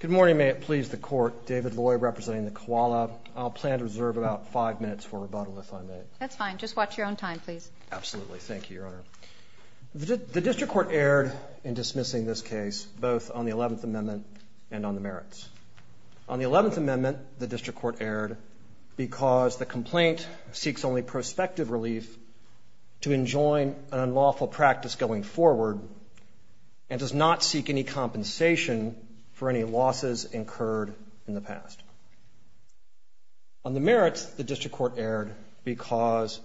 Good morning. May it please the Court, David Loy representing the Koala. I'll plan to reserve about five minutes for rebuttal if I may. That's fine. Just watch your own time, please. Absolutely. Thank you, Your Honor. The District Court erred in dismissing this case, both on the Eleventh Amendment and on the merits. On the Eleventh Amendment, the District Court erred because the complaint seeks only prospective relief to enjoin an unlawful practice going forward and does not seek any compensation for any losses incurred in the past. On the merits, the District Court erred because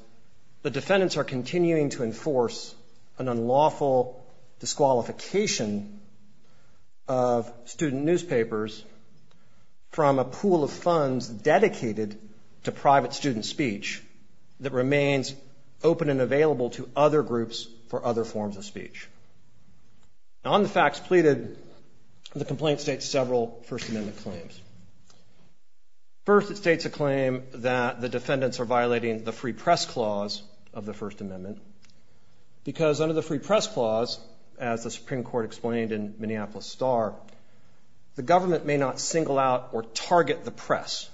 the defendants are continuing to enforce an unlawful disqualification of student newspapers from a pool of funds dedicated to private student speech that remains open and available to other groups for other forms of speech. On the facts pleaded, the complaint states several First Amendment claims. First, it states a claim that the defendants are violating the Free Press Clause of the First Amendment because under the Free Press Clause, as the Supreme Court explained in Minneapolis Star, the government may not single out or target the press.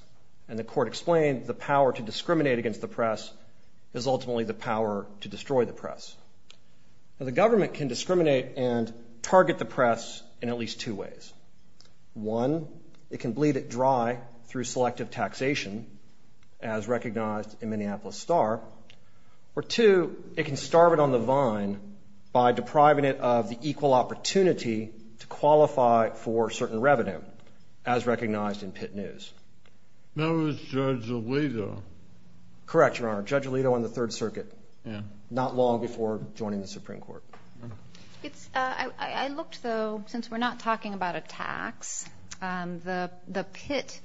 And the Court explained the power to discriminate against the press is ultimately the power to destroy the press. Now, the government can discriminate and target the press in at least two ways. One, it can bleed it dry through selective taxation, as recognized in Minneapolis Star. Or two, it can starve it on the vine by depriving it of the equal opportunity to qualify for certain revenue, as recognized in Pitt News. That was Judge Alito. Correct, Your Honor. Judge Alito on the Third Circuit. Yeah. Not long before joining the Supreme Court. I looked, though, since we're not talking about a tax, the Pitt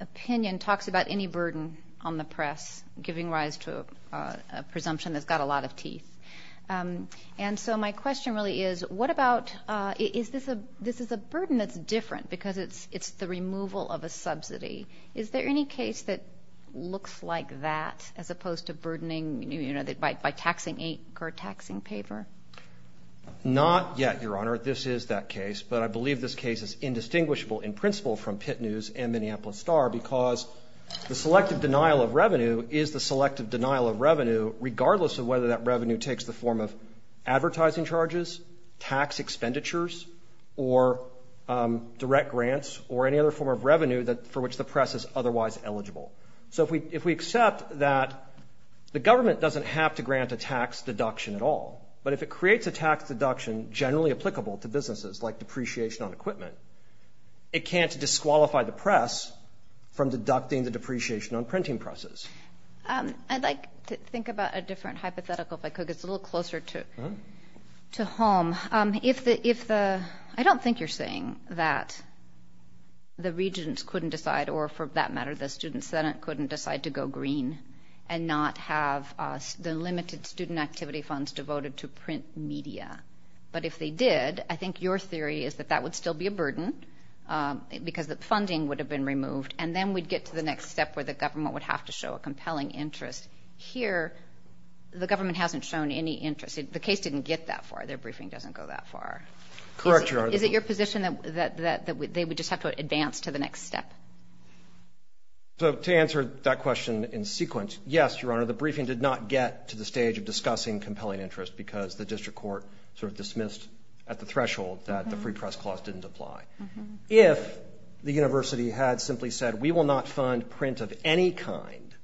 opinion talks about any burden on the press giving rise to a presumption that's got a lot of teeth. And so my question really is, what about – this is a burden that's different because it's the removal of a subsidy. Is there any case that looks like that, as opposed to burdening by taxing ink or taxing paper? Not yet, Your Honor. This is that case. But I believe this case is indistinguishable in principle from Pitt News and Minneapolis Star because the selective denial of revenue is the selective denial of revenue, regardless of whether that revenue takes the form of advertising charges, tax expenditures, or direct grants, or any other form of revenue for which the press is otherwise eligible. So if we accept that the government doesn't have to grant a tax deduction at all, but if it creates a tax deduction generally applicable to businesses, like depreciation on equipment, it can't disqualify the press from deducting the depreciation on printing presses. I'd like to think about a different hypothetical, if I could. It's a little closer to home. I don't think you're saying that the regents couldn't decide, or for that matter, the Student Senate couldn't decide to go green and not have the limited student activity funds devoted to print media. But if they did, I think your theory is that that would still be a burden because the funding would have been removed, and then we'd get to the next step where the government would have to show a compelling interest. Here, the government hasn't shown any interest. The case didn't get that far. Their briefing doesn't go that far. Correct, Your Honor. Is it your position that they would just have to advance to the next step? So to answer that question in sequence, yes, Your Honor, the briefing did not get to the stage of discussing compelling interest because the district court sort of dismissed at the threshold that the Free Press Clause didn't apply. If the university had simply said, we will not fund print of any kind,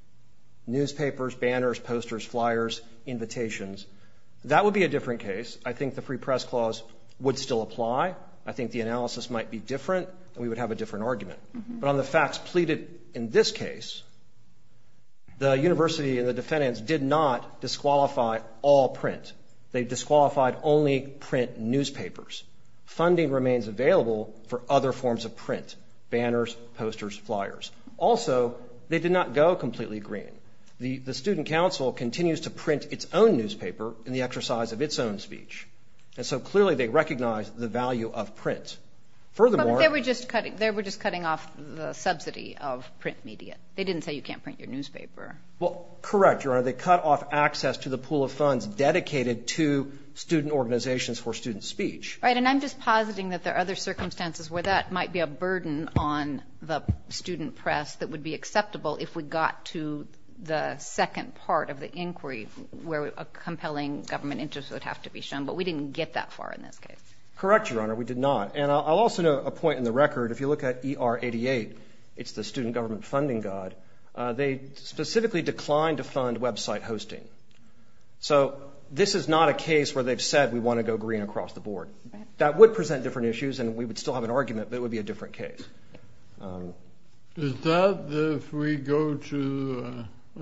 newspapers, banners, posters, flyers, invitations, that would be a different case. I think the Free Press Clause would still apply. I think the analysis might be different, and we would have a different argument. But on the facts pleaded in this case, the university and the defendants did not disqualify all print. They disqualified only print newspapers. Funding remains available for other forms of print, banners, posters, flyers. Also, they did not go completely green. The student council continues to print its own newspaper in the exercise of its own speech. And so clearly they recognize the value of print. Furthermore – But they were just cutting off the subsidy of print media. They didn't say you can't print your newspaper. Well, correct, Your Honor. They cut off access to the pool of funds dedicated to student organizations for student speech. Right. And I'm just positing that there are other circumstances where that might be a burden on the student press that would be acceptable if we got to the second part of the inquiry where a compelling government interest would have to be shown. But we didn't get that far in this case. Correct, Your Honor. We did not. And I'll also note a point in the record. If you look at ER88, it's the student government funding guide. They specifically declined to fund website hosting. So this is not a case where they've said we want to go green across the board. That would present different issues, and we would still have an argument, but it would be a different case. Is that if we go to –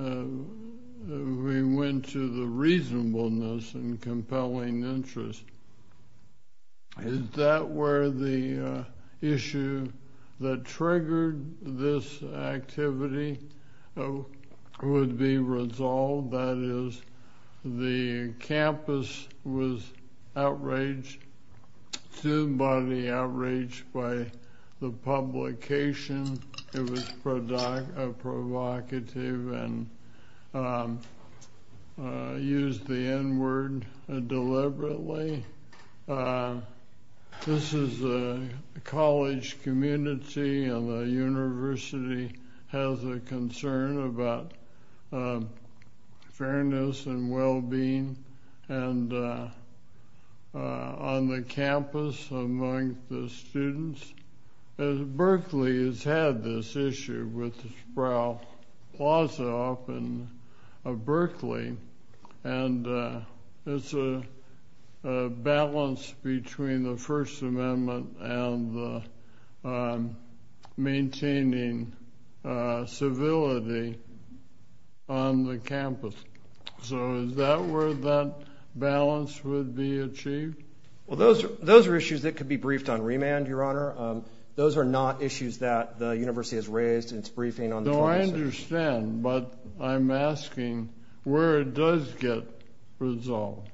if we went to the reasonableness and compelling interest, is that where the issue that triggered this activity would be resolved? That is, the campus was outraged, somebody outraged by the publication. It was provocative and used the N-word deliberately. This is a college community, and the university has a concern about fairness and well-being on the campus among the students. Berkeley has had this issue with the Sproul Plaza up in Berkeley, and it's a balance between the First Amendment and maintaining civility on the campus. So is that where that balance would be achieved? Well, those are issues that could be briefed on remand, Your Honor. Those are not issues that the university has raised in its briefing on the crisis. No, I understand, but I'm asking where it does get resolved.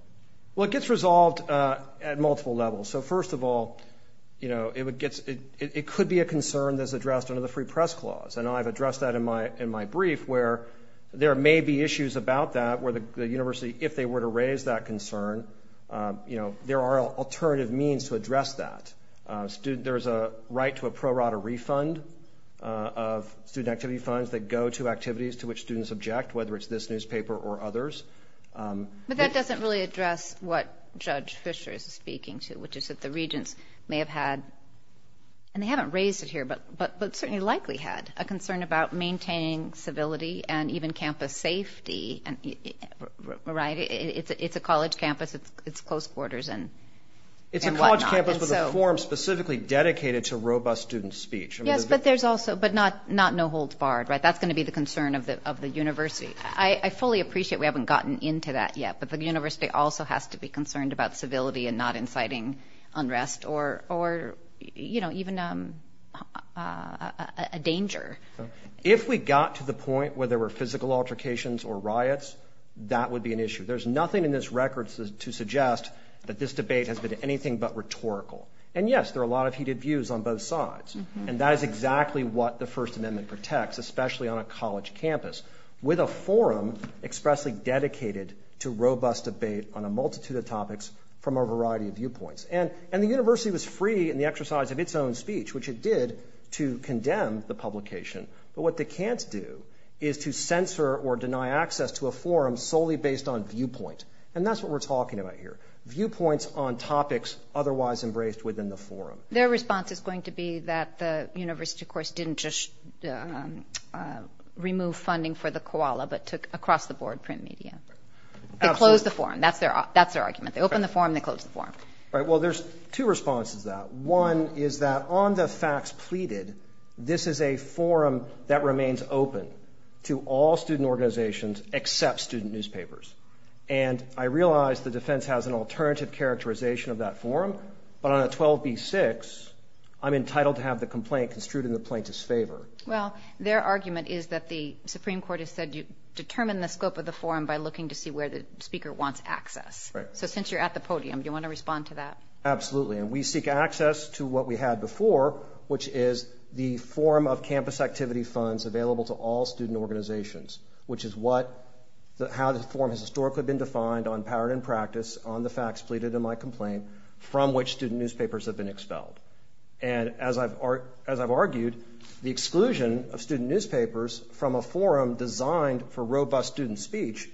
Well, it gets resolved at multiple levels. So first of all, it would get – it could be a concern that's addressed under the Free Press Clause, and I've addressed that in my brief where there may be issues about that where the university, if they were to raise that concern, there are alternative means to address that. There's a right to a pro rata refund of student activity funds that go to activities to which students object, whether it's this newspaper or others. But that doesn't really address what Judge Fischer is speaking to, which is that the regents may have had – and they haven't raised it here, but certainly likely had a concern about maintaining civility and even campus safety, right? It's a college campus. It's close quarters and whatnot. It's a college campus with a forum specifically dedicated to robust student speech. Yes, but there's also – but not no holds barred, right? That's going to be the concern of the university. I fully appreciate we haven't gotten into that yet, but the university also has to be concerned about civility and not inciting unrest or, you know, even a danger. If we got to the point where there were physical altercations or riots, that would be an issue. There's nothing in this record to suggest that this debate has been anything but rhetorical. And, yes, there are a lot of heated views on both sides, and that is exactly what the First Amendment protects, especially on a college campus, with a forum expressly dedicated to robust debate on a multitude of topics from a variety of viewpoints. And the university was free in the exercise of its own speech, which it did, to condemn the publication. But what they can't do is to censor or deny access to a forum solely based on viewpoint. And that's what we're talking about here, viewpoints on topics otherwise embraced within the forum. Their response is going to be that the university, of course, didn't just remove funding for the koala but took across-the-board print media. They closed the forum. That's their argument. They opened the forum. They closed the forum. All right. Well, there's two responses to that. One is that on the facts pleaded, this is a forum that remains open to all student organizations except student newspapers. And I realize the defense has an alternative characterization of that forum, but on a 12b-6, I'm entitled to have the complaint construed in the plaintiff's favor. Well, their argument is that the Supreme Court has said you determine the scope of the forum by looking to see where the speaker wants access. Right. So since you're at the podium, do you want to respond to that? Absolutely. And we seek access to what we had before, which is the forum of campus activity funds available to all student organizations, which is how the forum has historically been defined on power and practice, on the facts pleaded in my complaint, from which student newspapers have been expelled. And as I've argued, the exclusion of student newspapers from a forum designed for robust student speech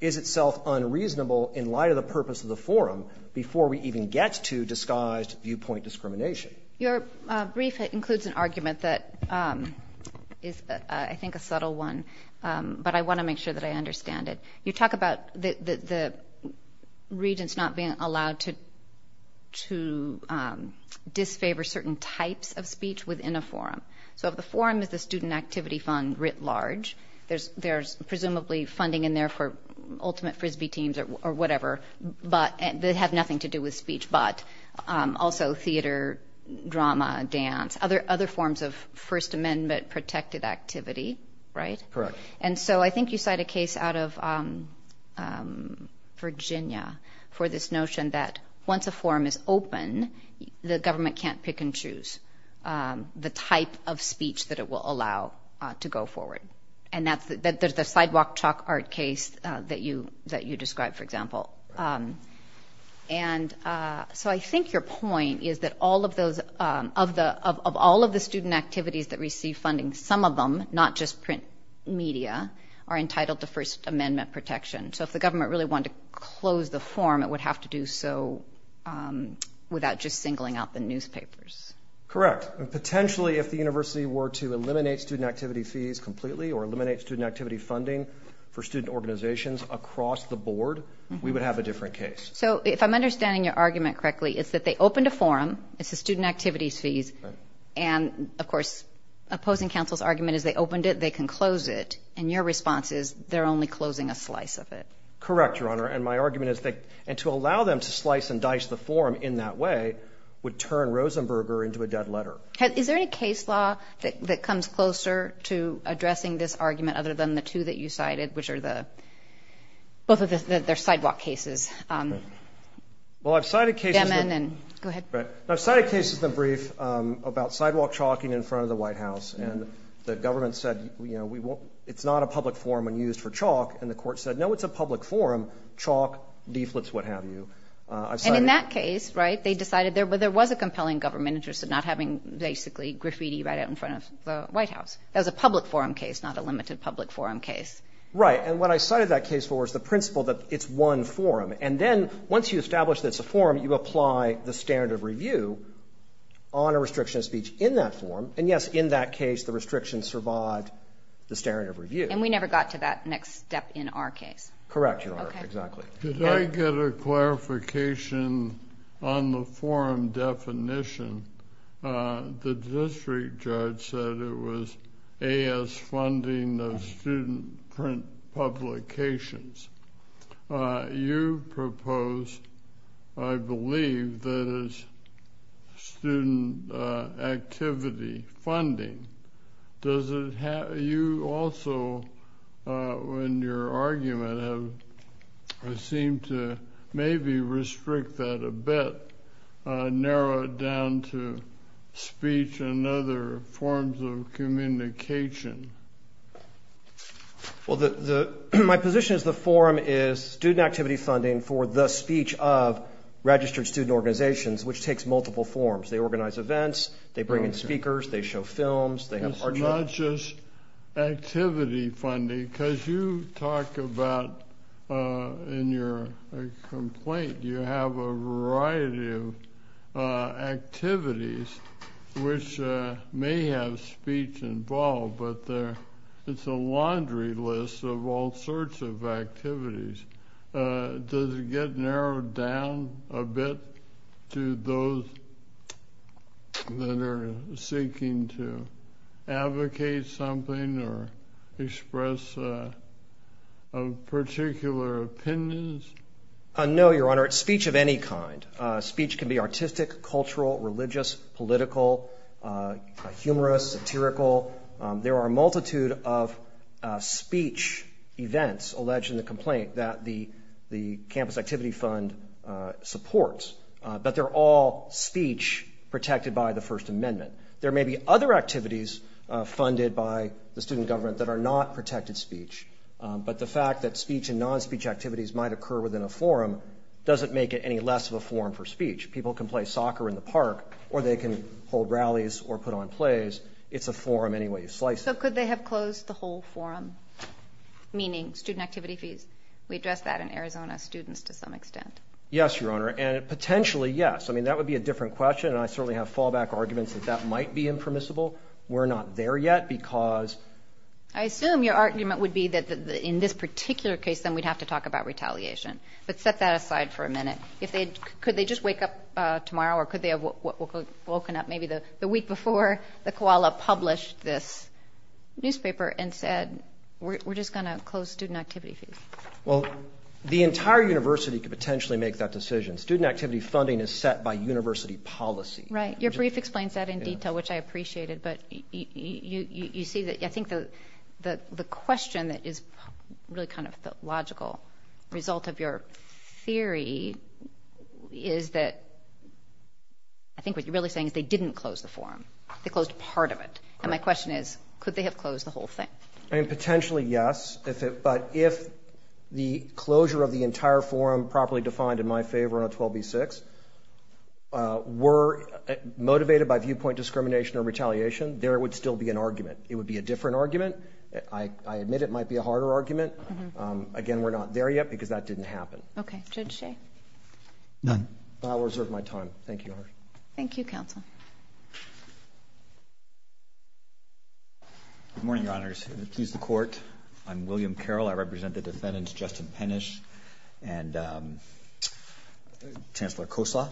is itself unreasonable in light of the purpose of the forum before we even get to disguised viewpoint discrimination. Your brief includes an argument that is, I think, a subtle one, but I want to make sure that I understand it. You talk about the regents not being allowed to disfavor certain types of speech within a forum. So if the forum is the student activity fund writ large, there's presumably funding in there for ultimate Frisbee teams or whatever, but they have nothing to do with speech, but also theater, drama, dance, other forms of First Amendment-protected activity, right? Correct. And so I think you cite a case out of Virginia for this notion that once a forum is open, the government can't pick and choose the type of speech that it will allow to go forward. And there's the sidewalk chalk art case that you described, for example. And so I think your point is that of all of the student activities that receive funding, some of them, not just print media, are entitled to First Amendment protection. So if the government really wanted to close the forum, it would have to do so without just singling out the newspapers. Correct. And potentially, if the university were to eliminate student activity fees completely or eliminate student activity funding for student organizations across the board, we would have a different case. So if I'm understanding your argument correctly, it's that they opened a forum. It's the student activities fees. And, of course, opposing counsel's argument is they opened it, they can close it. And your response is they're only closing a slice of it. Correct, Your Honor. And my argument is that to allow them to slice and dice the forum in that way would turn Rosenberger into a dead letter. Is there any case law that comes closer to addressing this argument other than the two that you cited, which are both of their sidewalk cases? Well, I've cited cases. Go ahead. I've cited cases in the brief about sidewalk chalking in front of the White House. And the government said, you know, it's not a public forum when used for chalk. And the court said, no, it's a public forum, chalk, leaflets, what have you. And in that case, right, they decided there was a compelling government interest in not having basically graffiti right out in front of the White House. That was a public forum case, not a limited public forum case. Right. And what I cited that case for was the principle that it's one forum. And then once you establish that it's a forum, you apply the standard of review on a restriction of speech in that forum. And, yes, in that case the restriction survived the standard of review. And we never got to that next step in our case. Correct, Your Honor. Okay. Exactly. Did I get a clarification on the forum definition? The district judge said it was A.S. funding of student print publications. You proposed, I believe, that it's student activity funding. Does it have you also in your argument seem to maybe restrict that a bit, narrow it down to speech and other forms of communication? Well, my position is the forum is student activity funding for the speech of registered student organizations, which takes multiple forms. They organize events. They bring in speakers. They show films. They have art shows. It's not just activity funding because you talk about in your complaint, you have a variety of activities which may have speech involved, but it's a laundry list of all sorts of activities. Does it get narrowed down a bit to those that are seeking to advocate something or express particular opinions? No, Your Honor. It's speech of any kind. Speech can be artistic, cultural, religious, political, humorous, satirical. There are a multitude of speech events alleged in the complaint that the Campus Activity Fund supports, but they're all speech protected by the First Amendment. There may be other activities funded by the student government that are not protected speech, but the fact that speech and non-speech activities might occur within a forum doesn't make it any less of a forum for speech. People can play soccer in the park or they can hold rallies or put on plays. It's a forum anyway. You slice it. So could they have closed the whole forum, meaning student activity fees? We addressed that in Arizona students to some extent. Yes, Your Honor, and potentially yes. I mean, that would be a different question, and I certainly have fallback arguments that that might be impermissible. We're not there yet because ---- I assume your argument would be that in this particular case, then we'd have to talk about retaliation. But set that aside for a minute. Could they just wake up tomorrow or could they have woken up maybe the week before the Koala published this newspaper and said we're just going to close student activity fees? Well, the entire university could potentially make that decision. Student activity funding is set by university policy. Right. Your brief explains that in detail, which I appreciated. But you see that I think the question that is really kind of the logical result of your theory is that I think what you're really saying is they didn't close the forum. They closed part of it. And my question is could they have closed the whole thing? I mean, potentially yes, but if the closure of the entire forum properly defined in my favor on 12b-6 were motivated by viewpoint discrimination or retaliation, there would still be an argument. It would be a different argument. I admit it might be a harder argument. Again, we're not there yet because that didn't happen. Okay. Judge Shea? None. I'll reserve my time. Thank you, Your Honor. Thank you, Counsel. Good morning, Your Honors. Please excuse the Court. I'm William Carroll. I represent the defendants, Justin Pennish and Chancellor Kosla.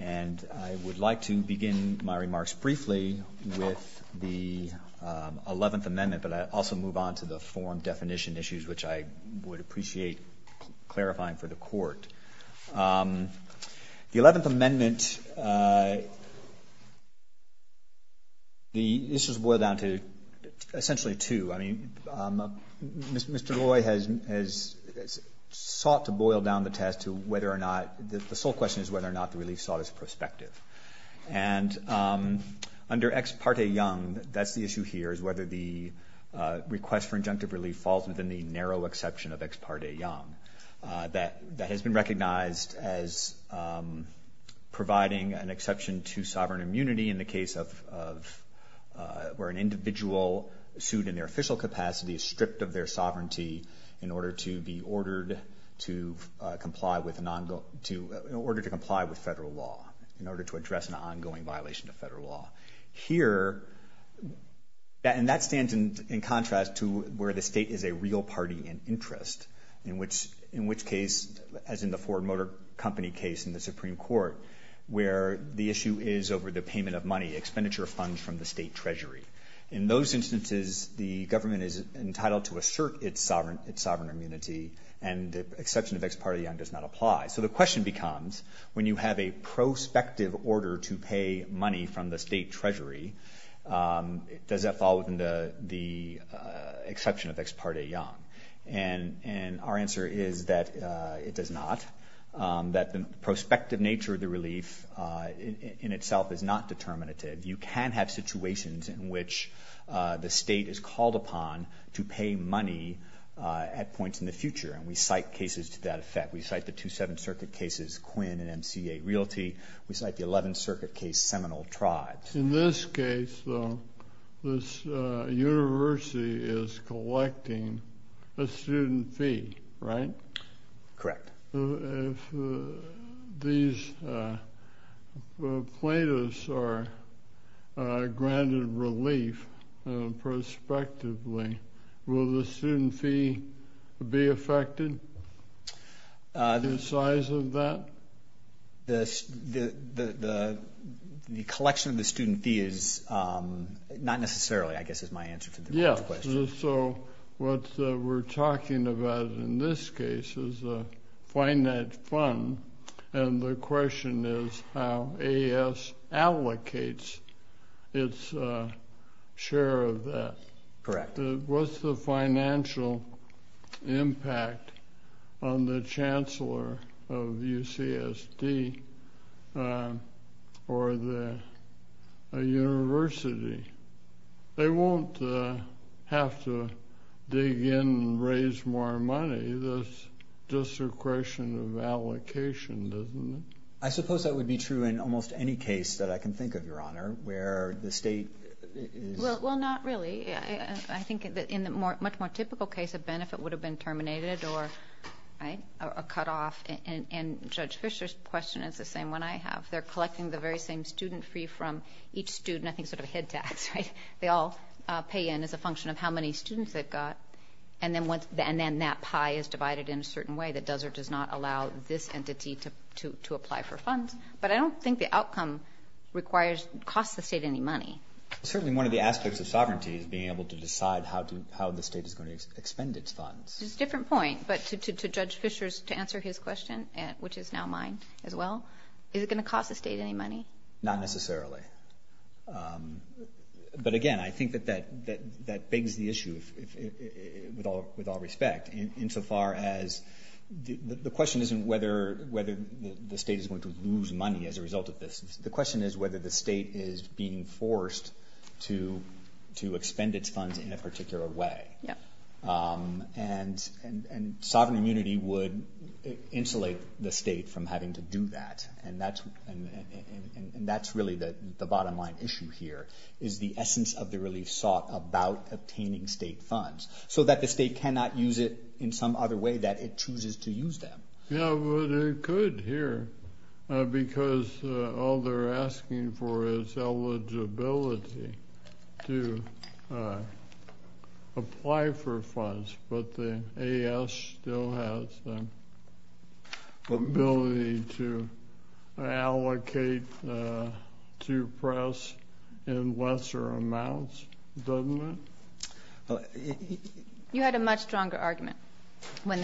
And I would like to begin my remarks briefly with the 11th Amendment, but I'll also move on to the forum definition issues, which I would appreciate clarifying for the Court. The 11th Amendment, this is boiled down to essentially two. I mean, Mr. Loy has sought to boil down the test to whether or not the sole question is whether or not the relief sought is prospective. And under Ex Parte Young, that's the issue here, is whether the request for injunctive relief falls within the narrow exception of Ex Parte Young. That has been recognized as providing an exception to sovereign immunity in the case of where an individual sued in their official capacity is stripped of their sovereignty in order to comply with federal law, in order to address an ongoing violation of federal law. Here, and that stands in contrast to where the state is a real party in interest, in which case, as in the Ford Motor Company case in the Supreme Court, where the issue is over the payment of money, expenditure of funds from the state treasury. In those instances, the government is entitled to assert its sovereign immunity, and the exception of Ex Parte Young does not apply. So the question becomes, when you have a prospective order to pay money from the state treasury, does that fall within the exception of Ex Parte Young? And our answer is that it does not, that the prospective nature of the relief in itself is not determinative. You can have situations in which the state is called upon to pay money at points in the future, and we cite cases to that effect. We cite the two Seventh Circuit cases, Quinn and MCA Realty. We cite the Eleventh Circuit case, Seminole Tribes. In this case, though, this university is collecting a student fee, right? Correct. If these plaintiffs are granted relief prospectively, will the student fee be affected? The size of that? The collection of the student fee is not necessarily, I guess, is my answer to the question. So what we're talking about in this case is a finite fund, and the question is how AS allocates its share of that. Correct. What's the financial impact on the chancellor of UCSD or the university? They won't have to dig in and raise more money. That's just a question of allocation, isn't it? I suppose that would be true in almost any case that I can think of, Your Honor, where the state is- Well, not really. I think in the much more typical case, a benefit would have been terminated or cut off, and Judge Fischer's question is the same one I have. They're collecting the very same student fee from each student, I think sort of a head tax, right? They all pay in as a function of how many students they've got, and then that pie is divided in a certain way that does or does not allow this entity to apply for funds. But I don't think the outcome requires, costs the state any money. Certainly one of the aspects of sovereignty is being able to decide how the state is going to expend its funds. It's a different point, but to Judge Fischer's, to answer his question, which is now mine as well, is it going to cost the state any money? Not necessarily. But again, I think that that begs the issue, with all respect, insofar as the question isn't whether the state is going to lose money as a result of this. The question is whether the state is being forced to expend its funds in a particular way. And sovereign immunity would insulate the state from having to do that, and that's really the bottom line issue here is the essence of the relief sought about obtaining state funds so that the state cannot use it in some other way that it chooses to use them. Yeah, but it could here, because all they're asking for is eligibility to apply for funds, but the AS still has the ability to allocate to press in lesser amounts, doesn't it? You had a much stronger argument on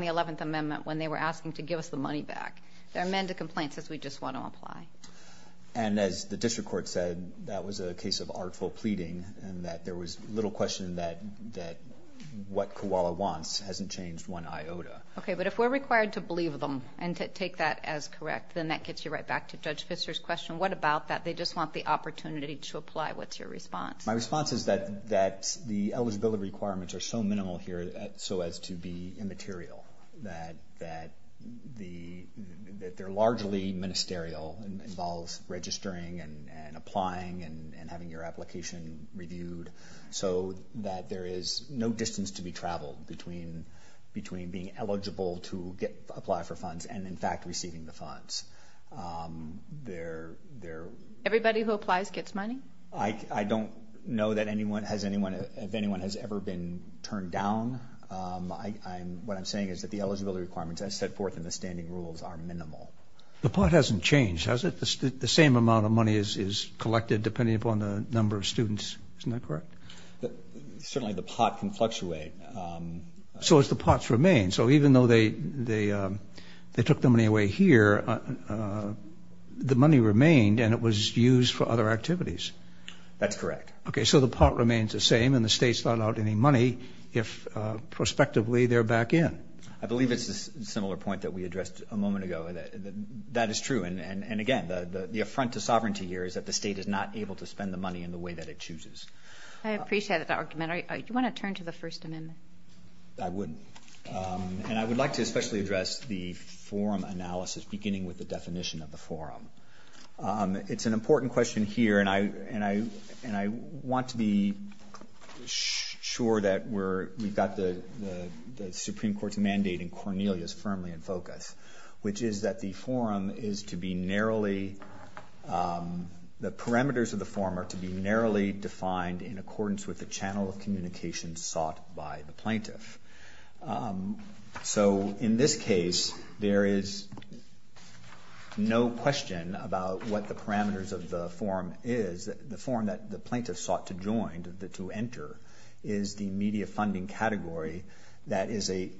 the 11th Amendment when they were asking to give us the money back. They're amended complaints as we just want to apply. And as the district court said, that was a case of artful pleading, and that there was little question that what Koala wants hasn't changed one iota. Okay, but if we're required to believe them and to take that as correct, then that gets you right back to Judge Fischer's question. What about that? They just want the opportunity to apply. What's your response? My response is that the eligibility requirements are so minimal here so as to be immaterial, that they're largely ministerial and involves registering and applying and having your application reviewed so that there is no distance to be traveled between being eligible to apply for funds and, in fact, receiving the funds. Everybody who applies gets money? I don't know if anyone has ever been turned down. What I'm saying is that the eligibility requirements, as set forth in the standing rules, are minimal. The pot hasn't changed, has it? The same amount of money is collected depending upon the number of students. Isn't that correct? Certainly the pot can fluctuate. So it's the pot's remain. So even though they took the money away here, the money remained and it was used for other activities. That's correct. Okay, so the pot remains the same and the state's not allowed any money if, prospectively, they're back in. I believe it's a similar point that we addressed a moment ago. That is true. And, again, the affront to sovereignty here is that the state is not able to spend the money in the way that it chooses. I appreciate that argument. Do you want to turn to the First Amendment? I would. And I would like to especially address the forum analysis beginning with the definition of the forum. It's an important question here, and I want to be sure that we've got the Supreme Court's mandate and Cornelia's firmly in focus, which is that the forum is to be narrowly, the parameters of the forum are to be narrowly defined in accordance with the channel of communication sought by the plaintiff. So in this case, there is no question about what the parameters of the forum is. The forum that the plaintiff sought to join, to enter, is the media funding category that is a,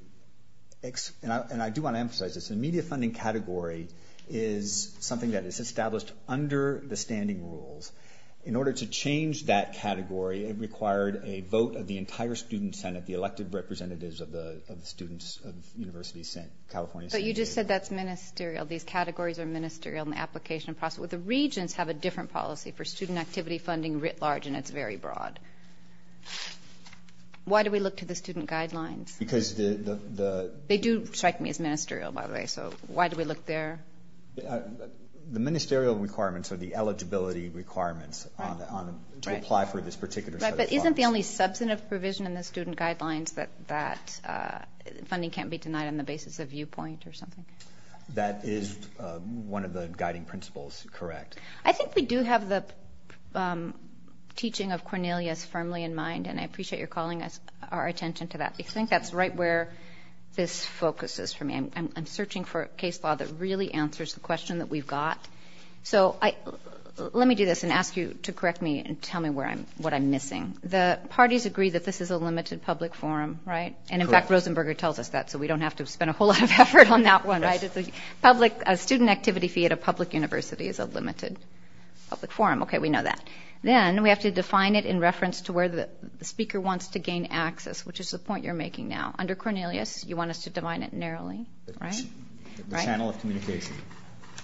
and I do want to emphasize this, the media funding category is something that is established under the standing rules. In order to change that category, it required a vote of the entire student senate, the elected representatives of the students of the University of California San Diego. But you just said that's ministerial. These categories are ministerial in the application process. The regents have a different policy for student activity funding writ large, and it's very broad. Why do we look to the student guidelines? Because the – They do strike me as ministerial, by the way, so why do we look there? The ministerial requirements are the eligibility requirements to apply for this particular set of requirements. Right, but isn't the only substantive provision in the student guidelines that funding can't be denied on the basis of viewpoint or something? That is one of the guiding principles, correct. I think we do have the teaching of Cornelius firmly in mind, and I appreciate your calling our attention to that. I think that's right where this focus is for me. I'm searching for a case law that really answers the question that we've got. So let me do this and ask you to correct me and tell me what I'm missing. The parties agree that this is a limited public forum, right? Correct. Rosenberger tells us that, so we don't have to spend a whole lot of effort on that one, right? A student activity fee at a public university is a limited public forum. Okay, we know that. Then we have to define it in reference to where the speaker wants to gain access, which is the point you're making now. Under Cornelius, you want us to define it narrowly, right? The channel of communication.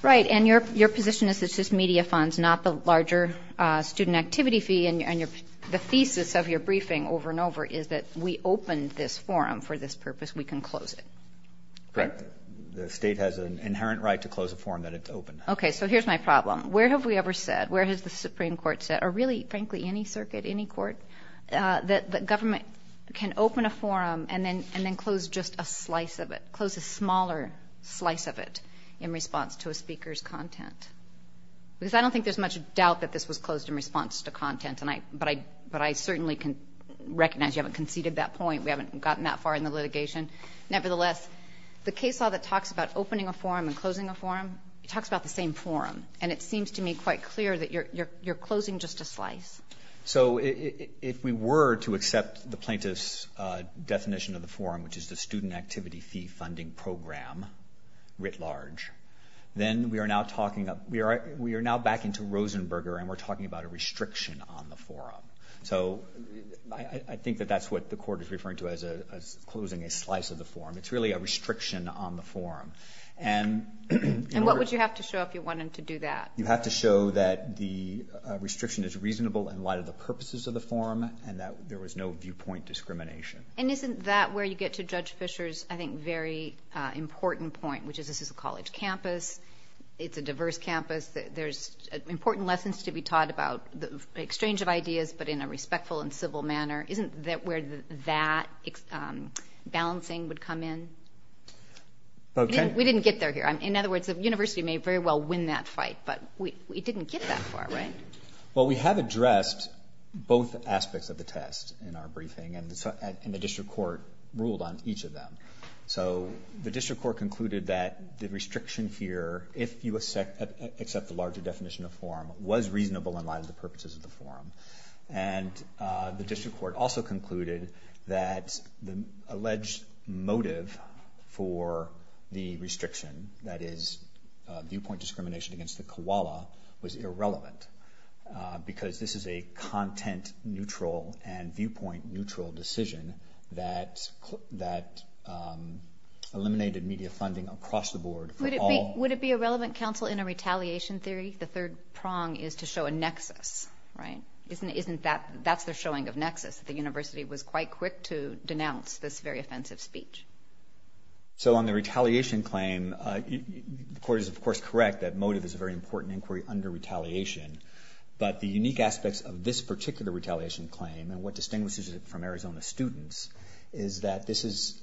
Right, and your position is it's just media funds, not the larger student activity fee, and the thesis of your briefing over and over is that we opened this forum for this purpose, we can close it. Correct. The state has an inherent right to close a forum that it's opened. Okay, so here's my problem. Where have we ever said, where has the Supreme Court said, or really, frankly, any circuit, any court, that the government can open a forum and then close just a slice of it, close a smaller slice of it in response to a speaker's content? Because I don't think there's much doubt that this was closed in response to content, but I certainly can recognize you haven't conceded that point. We haven't gotten that far in the litigation. Nevertheless, the case law that talks about opening a forum and closing a forum talks about the same forum, and it seems to me quite clear that you're closing just a slice. So if we were to accept the plaintiff's definition of the forum, which is the Student Activity Fee Funding Program writ large, then we are now back into Rosenberger, and we're talking about a restriction on the forum. So I think that that's what the court is referring to as closing a slice of the forum. It's really a restriction on the forum. And what would you have to show if you wanted to do that? You have to show that the restriction is reasonable in light of the purposes of the forum and that there was no viewpoint discrimination. And isn't that where you get to Judge Fischer's, I think, very important point, which is this is a college campus. It's a diverse campus. There's important lessons to be taught about the exchange of ideas, but in a respectful and civil manner. Isn't that where that balancing would come in? We didn't get there here. In other words, the university may very well win that fight, but we didn't get that far, right? Well, we have addressed both aspects of the test in our briefing, and the district court ruled on each of them. So the district court concluded that the restriction here, if you accept the larger definition of forum, was reasonable in light of the purposes of the forum. And the district court also concluded that the alleged motive for the restriction, that is viewpoint discrimination against the koala, was irrelevant because this is a content-neutral and viewpoint-neutral decision that eliminated media funding across the board. Would it be a relevant counsel in a retaliation theory? The third prong is to show a nexus, right? Isn't that the showing of nexus, that the university was quite quick to denounce this very offensive speech? So on the retaliation claim, the court is, of course, correct that motive is a very important inquiry under retaliation, but the unique aspects of this particular retaliation claim and what distinguishes it from Arizona students is that this is,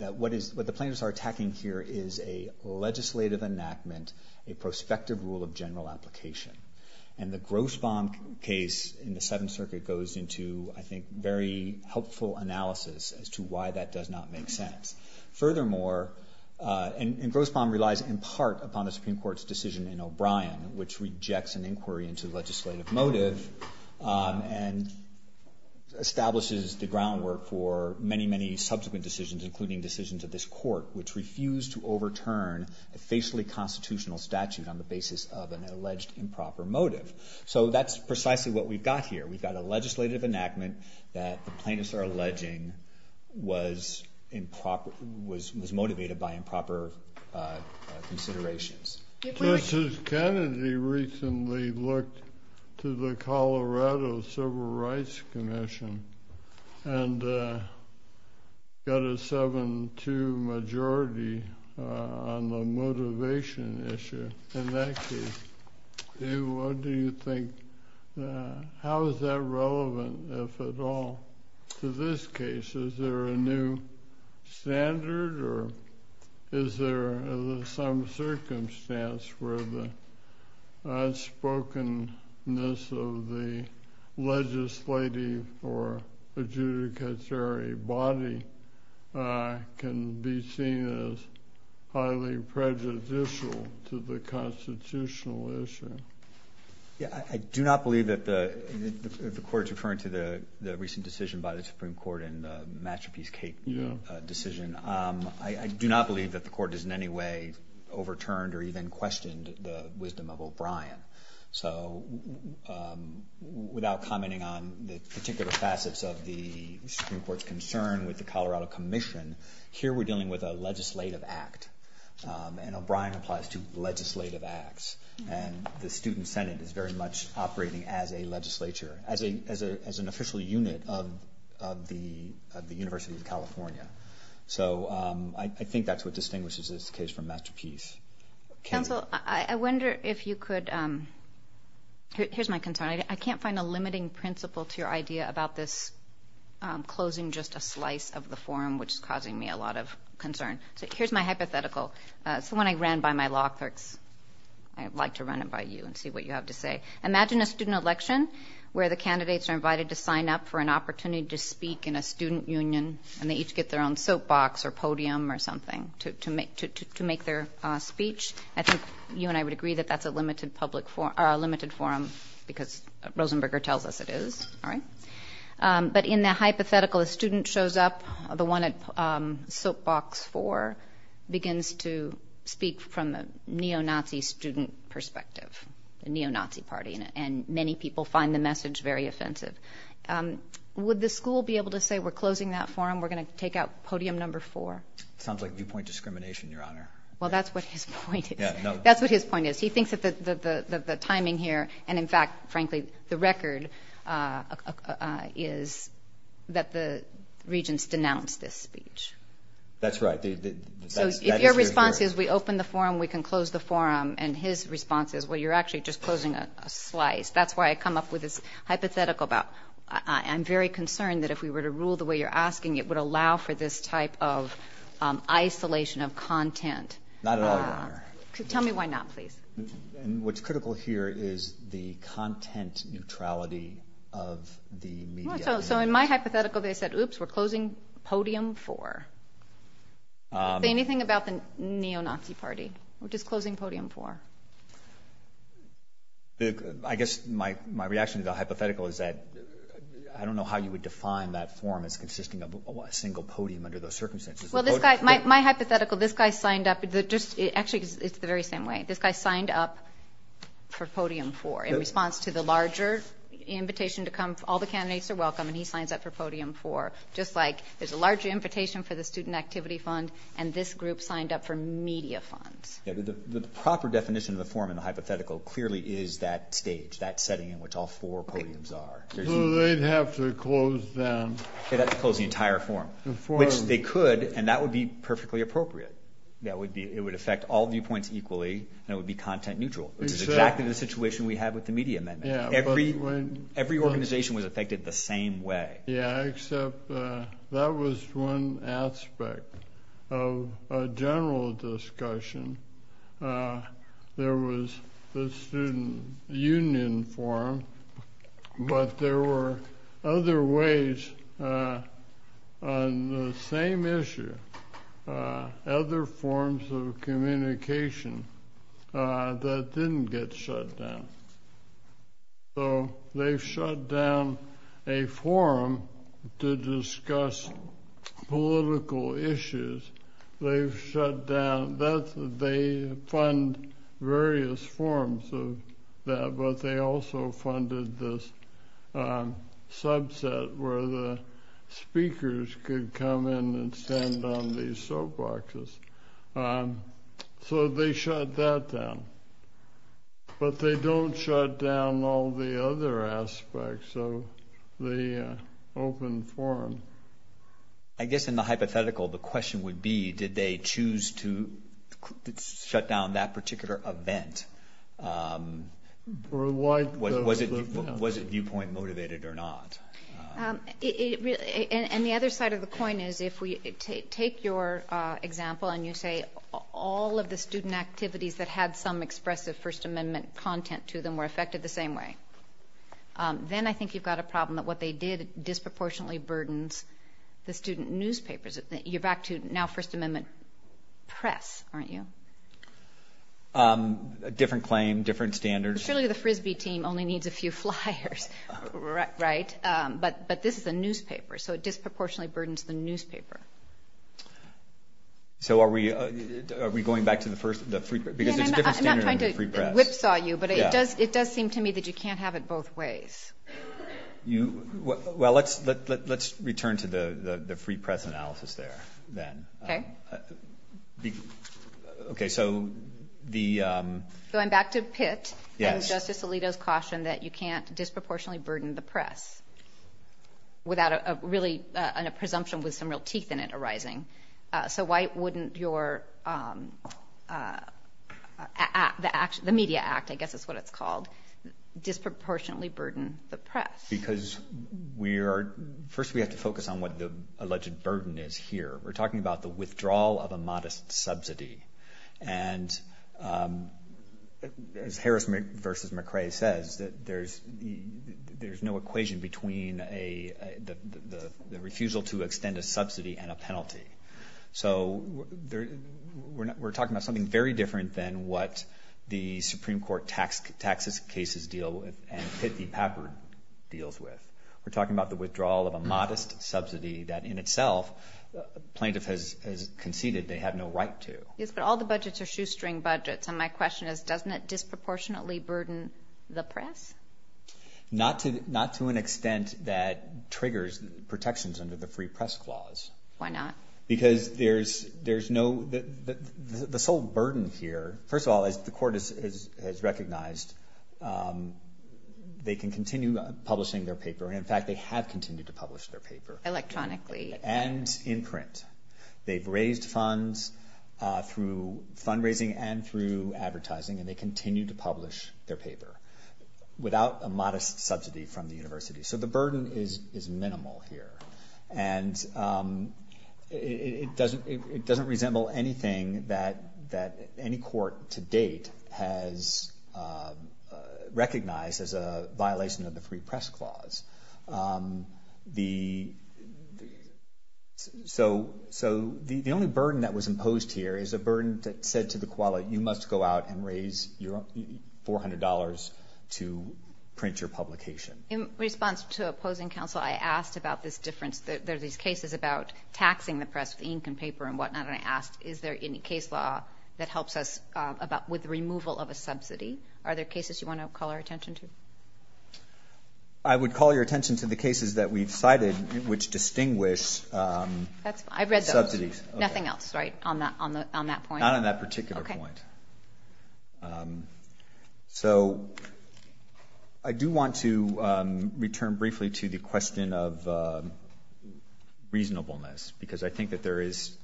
what the plaintiffs are attacking here is a legislative enactment, a prospective rule of general application. And the Grossbaum case in the Seventh Circuit goes into, I think, very helpful analysis as to why that does not make sense. Furthermore, and Grossbaum relies in part upon the Supreme Court's decision in O'Brien, which rejects an inquiry into the legislative motive and establishes the groundwork for many, many subsequent decisions, including decisions of this court, which refused to overturn a facially constitutional statute on the basis of an alleged improper motive. So that's precisely what we've got here. We've got a legislative enactment that the plaintiffs are alleging was motivated by improper considerations. Justice Kennedy recently looked to the Colorado Civil Rights Commission and got a 7-2 majority on the motivation issue. In that case, what do you think, how is that relevant, if at all, to this case? Is there a new standard or is there some circumstance where the unspokenness of the legislative or adjudicatory body can be seen as highly prejudicial to the constitutional issue? I do not believe that the court's referring to the recent decision by the Supreme Court in the Mattrapiece case decision. I do not believe that the court has in any way overturned or even questioned the wisdom of O'Brien. So without commenting on the particular facets of the Supreme Court's concern with the Colorado Commission, here we're dealing with a legislative act, and O'Brien applies to legislative acts. And the Student Senate is very much operating as a legislature, as an official unit of the University of California. So I think that's what distinguishes this case from Mattrapiece. Counsel, I wonder if you could, here's my concern. I can't find a limiting principle to your idea about this closing just a slice of the forum, which is causing me a lot of concern. So here's my hypothetical. Someone I ran by my law clerks. I'd like to run it by you and see what you have to say. Imagine a student election where the candidates are invited to sign up for an opportunity to speak in a student union, and they each get their own soapbox or podium or something to make their speech. I think you and I would agree that that's a limited forum because Rosenberger tells us it is. But in the hypothetical, a student shows up. The one at soapbox four begins to speak from a neo-Nazi student perspective, a neo-Nazi party, and many people find the message very offensive. Would the school be able to say we're closing that forum, we're going to take out podium number four? Sounds like viewpoint discrimination, Your Honor. Well, that's what his point is. That's what his point is. He thinks that the timing here and, in fact, frankly, the record is that the regents denounced this speech. That's right. So if your response is we open the forum, we can close the forum, and his response is, well, you're actually just closing a slice. That's why I come up with this hypothetical about I'm very concerned that if we were to rule the way you're asking, it would allow for this type of isolation of content. Not at all, Your Honor. Tell me why not, please. What's critical here is the content neutrality of the media. So in my hypothetical, they said, oops, we're closing podium four. Say anything about the neo-Nazi party, which is closing podium four. I guess my reaction to the hypothetical is that I don't know how you would define that forum as consisting of a single podium under those circumstances. Well, my hypothetical, this guy signed up. Actually, it's the very same way. This guy signed up for podium four in response to the larger invitation to come. All the candidates are welcome, and he signs up for podium four, just like there's a large invitation for the student activity fund, and this group signed up for media funds. Yeah, but the proper definition of the forum in the hypothetical clearly is that stage, that setting in which all four podiums are. So they'd have to close them. They'd have to close the entire forum, which they could, and that would be perfectly appropriate. It would affect all viewpoints equally, and it would be content neutral, which is exactly the situation we have with the media amendment. Every organization was affected the same way. Yeah, except that was one aspect of a general discussion. There was the student union forum, but there were other ways on the same issue, other forms of communication that didn't get shut down. So they shut down a forum to discuss political issues. They've shut down that. They fund various forms of that, but they also funded this subset where the speakers could come in and stand on these soap boxes. So they shut that down. But they don't shut down all the other aspects of the open forum. I guess in the hypothetical, the question would be, did they choose to shut down that particular event? Was it viewpoint motivated or not? And the other side of the coin is if we take your example and you say, all of the student activities that had some expressive First Amendment content to them were affected the same way, then I think you've got a problem that what they did disproportionately burdens the student newspapers. You're back to now First Amendment press, aren't you? Different claim, different standards. Surely the Frisbee team only needs a few flyers, right? But this is a newspaper, so it disproportionately burdens the newspaper. So are we going back to the free press? I'm not trying to whipsaw you, but it does seem to me that you can't have it both ways. Well, let's return to the free press analysis there then. Okay. Going back to Pitt and Justice Alito's caution that you can't disproportionately burden the press without really a presumption with some real teeth in it arising. So why wouldn't the Media Act, I guess is what it's called, disproportionately burden the press? Because first we have to focus on what the alleged burden is here. We're talking about the withdrawal of a modest subsidy. And as Harris v. McCrae says, there's no equation between the refusal to extend a subsidy and a penalty. So we're talking about something very different than what the Supreme Court taxes cases deal with and Pitt v. Papert deals with. We're talking about the withdrawal of a modest subsidy that in itself plaintiff has conceded they have no right to. Yes, but all the budgets are shoestring budgets. And my question is, doesn't it disproportionately burden the press? Not to an extent that triggers protections under the free press clause. Why not? Because the sole burden here, first of all, as the Court has recognized, they can continue publishing their paper. And in fact, they have continued to publish their paper. Electronically. And in print. They've raised funds through fundraising and through advertising. And they continue to publish their paper without a modest subsidy from the university. So the burden is minimal here. And it doesn't resemble anything that any court to date has recognized as a violation of the free press clause. So the only burden that was imposed here is a burden that said to the QALY, you must go out and raise $400 to print your publication. In response to opposing counsel, I asked about this difference. There are these cases about taxing the press with ink and paper and whatnot. And I asked, is there any case law that helps us with the removal of a subsidy? Are there cases you want to call our attention to? I would call your attention to the cases that we've cited which distinguish subsidies. I've read those. Nothing else, right, on that point? Not on that particular point. Okay. So I do want to return briefly to the question of reasonableness. Because I think that there is,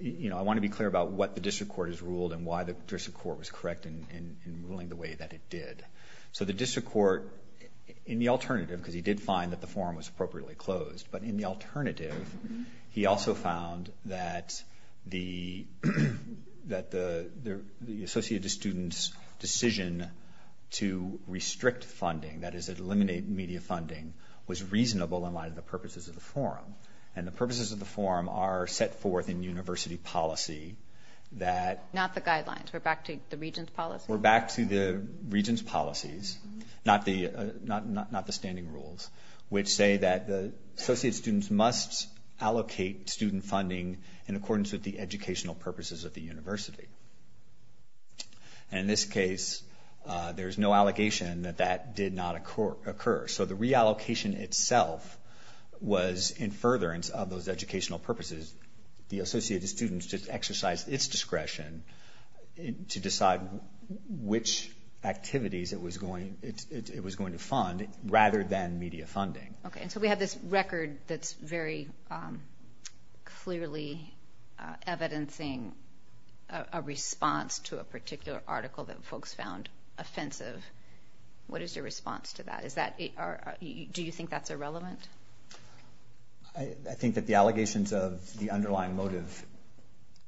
you know, I want to be clear about what the district court has ruled and why the district court was correct in ruling the way that it did. So the district court, in the alternative, because he did find that the forum was appropriately closed, but in the alternative, he also found that the Associated Students' decision to restrict funding, that is, eliminate media funding, was reasonable in light of the purposes of the forum. And the purposes of the forum are set forth in university policy that... Not the guidelines. We're back to the regent's policy. We're back to the regent's policies, not the standing rules, which say that the Associated Students must allocate student funding in accordance with the educational purposes of the university. And in this case, there's no allegation that that did not occur. So the reallocation itself was in furtherance of those educational purposes. The Associated Students just exercised its discretion to decide which activities it was going to fund rather than media funding. Okay. And so we have this record that's very clearly evidencing a response to a particular article that folks found offensive. What is your response to that? Do you think that's irrelevant? I think that the allegations of the underlying motive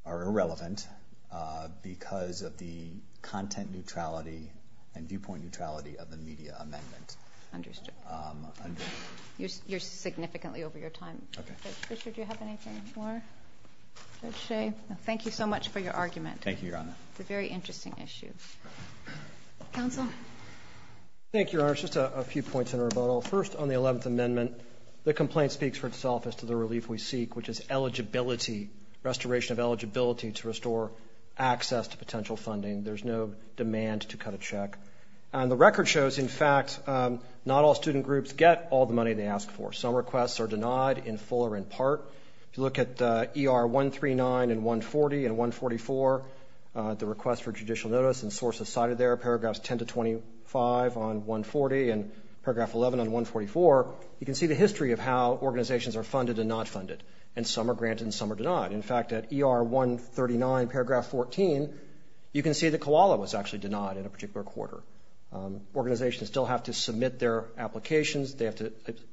are irrelevant because of the content neutrality and viewpoint neutrality of the media amendment. Understood. You're significantly over your time. Okay. Richard, do you have anything more to say? No. Thank you so much for your argument. Thank you, Your Honor. It's a very interesting issue. Counsel? Thank you, Your Honor. Just a few points in rebuttal. First, on the 11th Amendment, the complaint speaks for itself as to the relief we seek, which is eligibility, restoration of eligibility to restore access to potential funding. There's no demand to cut a check. And the record shows, in fact, not all student groups get all the money they ask for. Some requests are denied in full or in part. If you look at ER 139 and 140 and 144, the request for judicial notice and sources cited there, paragraphs 10 to 25 on 140 and paragraph 11 on 144, you can see the history of how organizations are funded and not funded, and some are granted and some are denied. In fact, at ER 139, paragraph 14, you can see that COALA was actually denied in a particular quarter. Organizations still have to submit their applications. They have to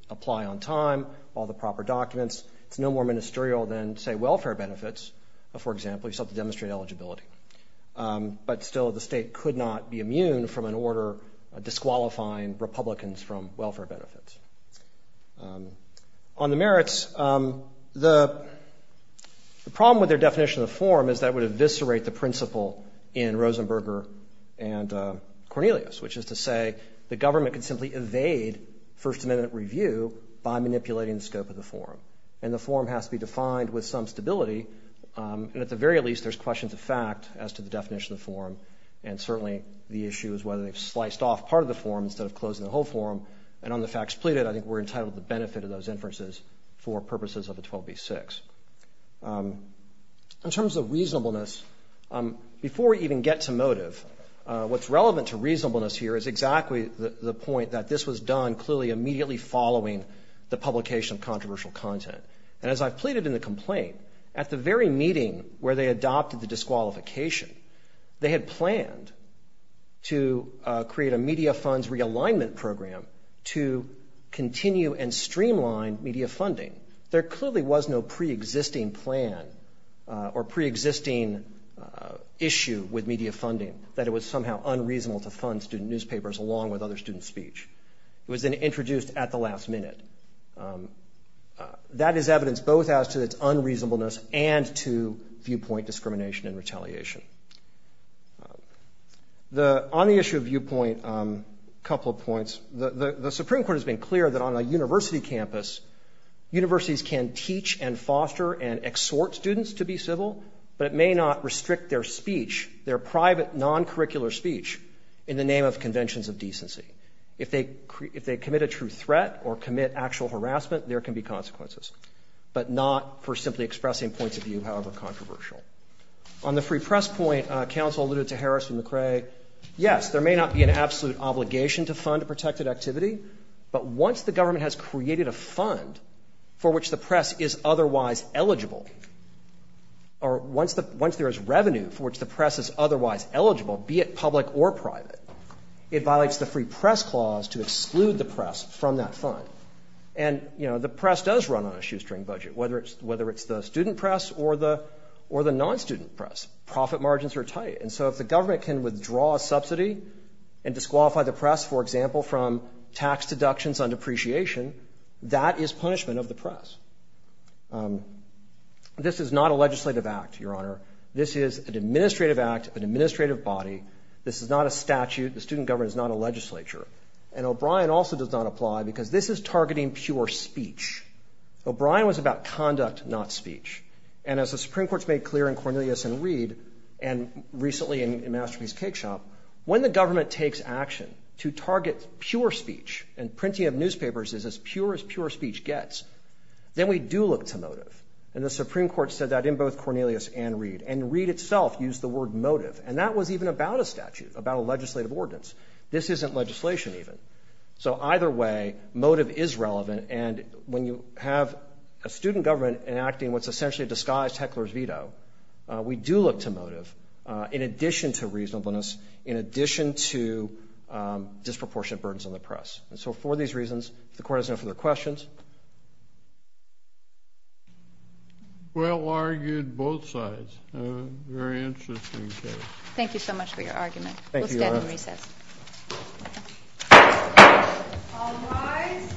apply on time, all the proper documents. It's no more ministerial than, say, welfare benefits, for example. You still have to demonstrate eligibility. But still, the state could not be immune from an order disqualifying Republicans from welfare benefits. On the merits, the problem with their definition of the form is that it would eviscerate the principle in Rosenberger and Cornelius, which is to say the government could simply evade First Amendment review by manipulating the scope of the form. And the form has to be defined with some stability. And at the very least, there's questions of fact as to the definition of the form, and certainly the issue is whether they've sliced off part of the form instead of closing the whole form. And on the facts pleaded, I think we're entitled to the benefit of those inferences for purposes of the 12b-6. In terms of reasonableness, before we even get to motive, what's relevant to reasonableness here is exactly the point that this was done clearly immediately following the publication of controversial content. And as I've pleaded in the complaint, at the very meeting where they adopted the disqualification, they had planned to create a media funds realignment program to continue and streamline media funding. There clearly was no preexisting plan or preexisting issue with media funding, that it was somehow unreasonable to fund student newspapers along with other student speech. It was introduced at the last minute. That is evidence both as to its unreasonableness and to viewpoint discrimination and retaliation. On the issue of viewpoint, a couple of points. The Supreme Court has been clear that on a university campus, universities can teach and foster and exhort students to be civil, but it may not restrict their speech, their private non-curricular speech, in the name of conventions of decency. If they commit a true threat or commit actual harassment, there can be consequences, but not for simply expressing points of view, however controversial. On the free press point, counsel alluded to Harris and McCrae. Yes, there may not be an absolute obligation to fund a protected activity, but once the government has created a fund for which the press is otherwise eligible or once there is revenue for which the press is otherwise eligible, be it public or private, it violates the free press clause to exclude the press from that fund. And, you know, the press does run on a shoestring budget, whether it's the student press or the non-student press. Profit margins are tight. And so if the government can withdraw a subsidy and disqualify the press, for example, from tax deductions on depreciation, that is punishment of the press. This is not a legislative act, Your Honor. This is an administrative act, an administrative body. This is not a statute. The student government is not a legislature. And O'Brien also does not apply because this is targeting pure speech. O'Brien was about conduct, not speech. And as the Supreme Court's made clear in Cornelius and Reed and recently in Masterpiece Cake Shop, when the government takes action to target pure speech and printing of newspapers as pure as pure speech gets, then we do look to motive. And the Supreme Court said that in both Cornelius and Reed. And Reed itself used the word motive. And that was even about a statute, about a legislative ordinance. This isn't legislation even. So either way, motive is relevant. And when you have a student government enacting what's essentially a disguised heckler's veto, we do look to motive in addition to reasonableness, in addition to disproportionate burdens on the press. And so for these reasons, if the Court has no further questions. Well, argued both sides. Very interesting case. Thank you so much for your argument. Thank you, Your Honor. We'll stand in recess. All rise.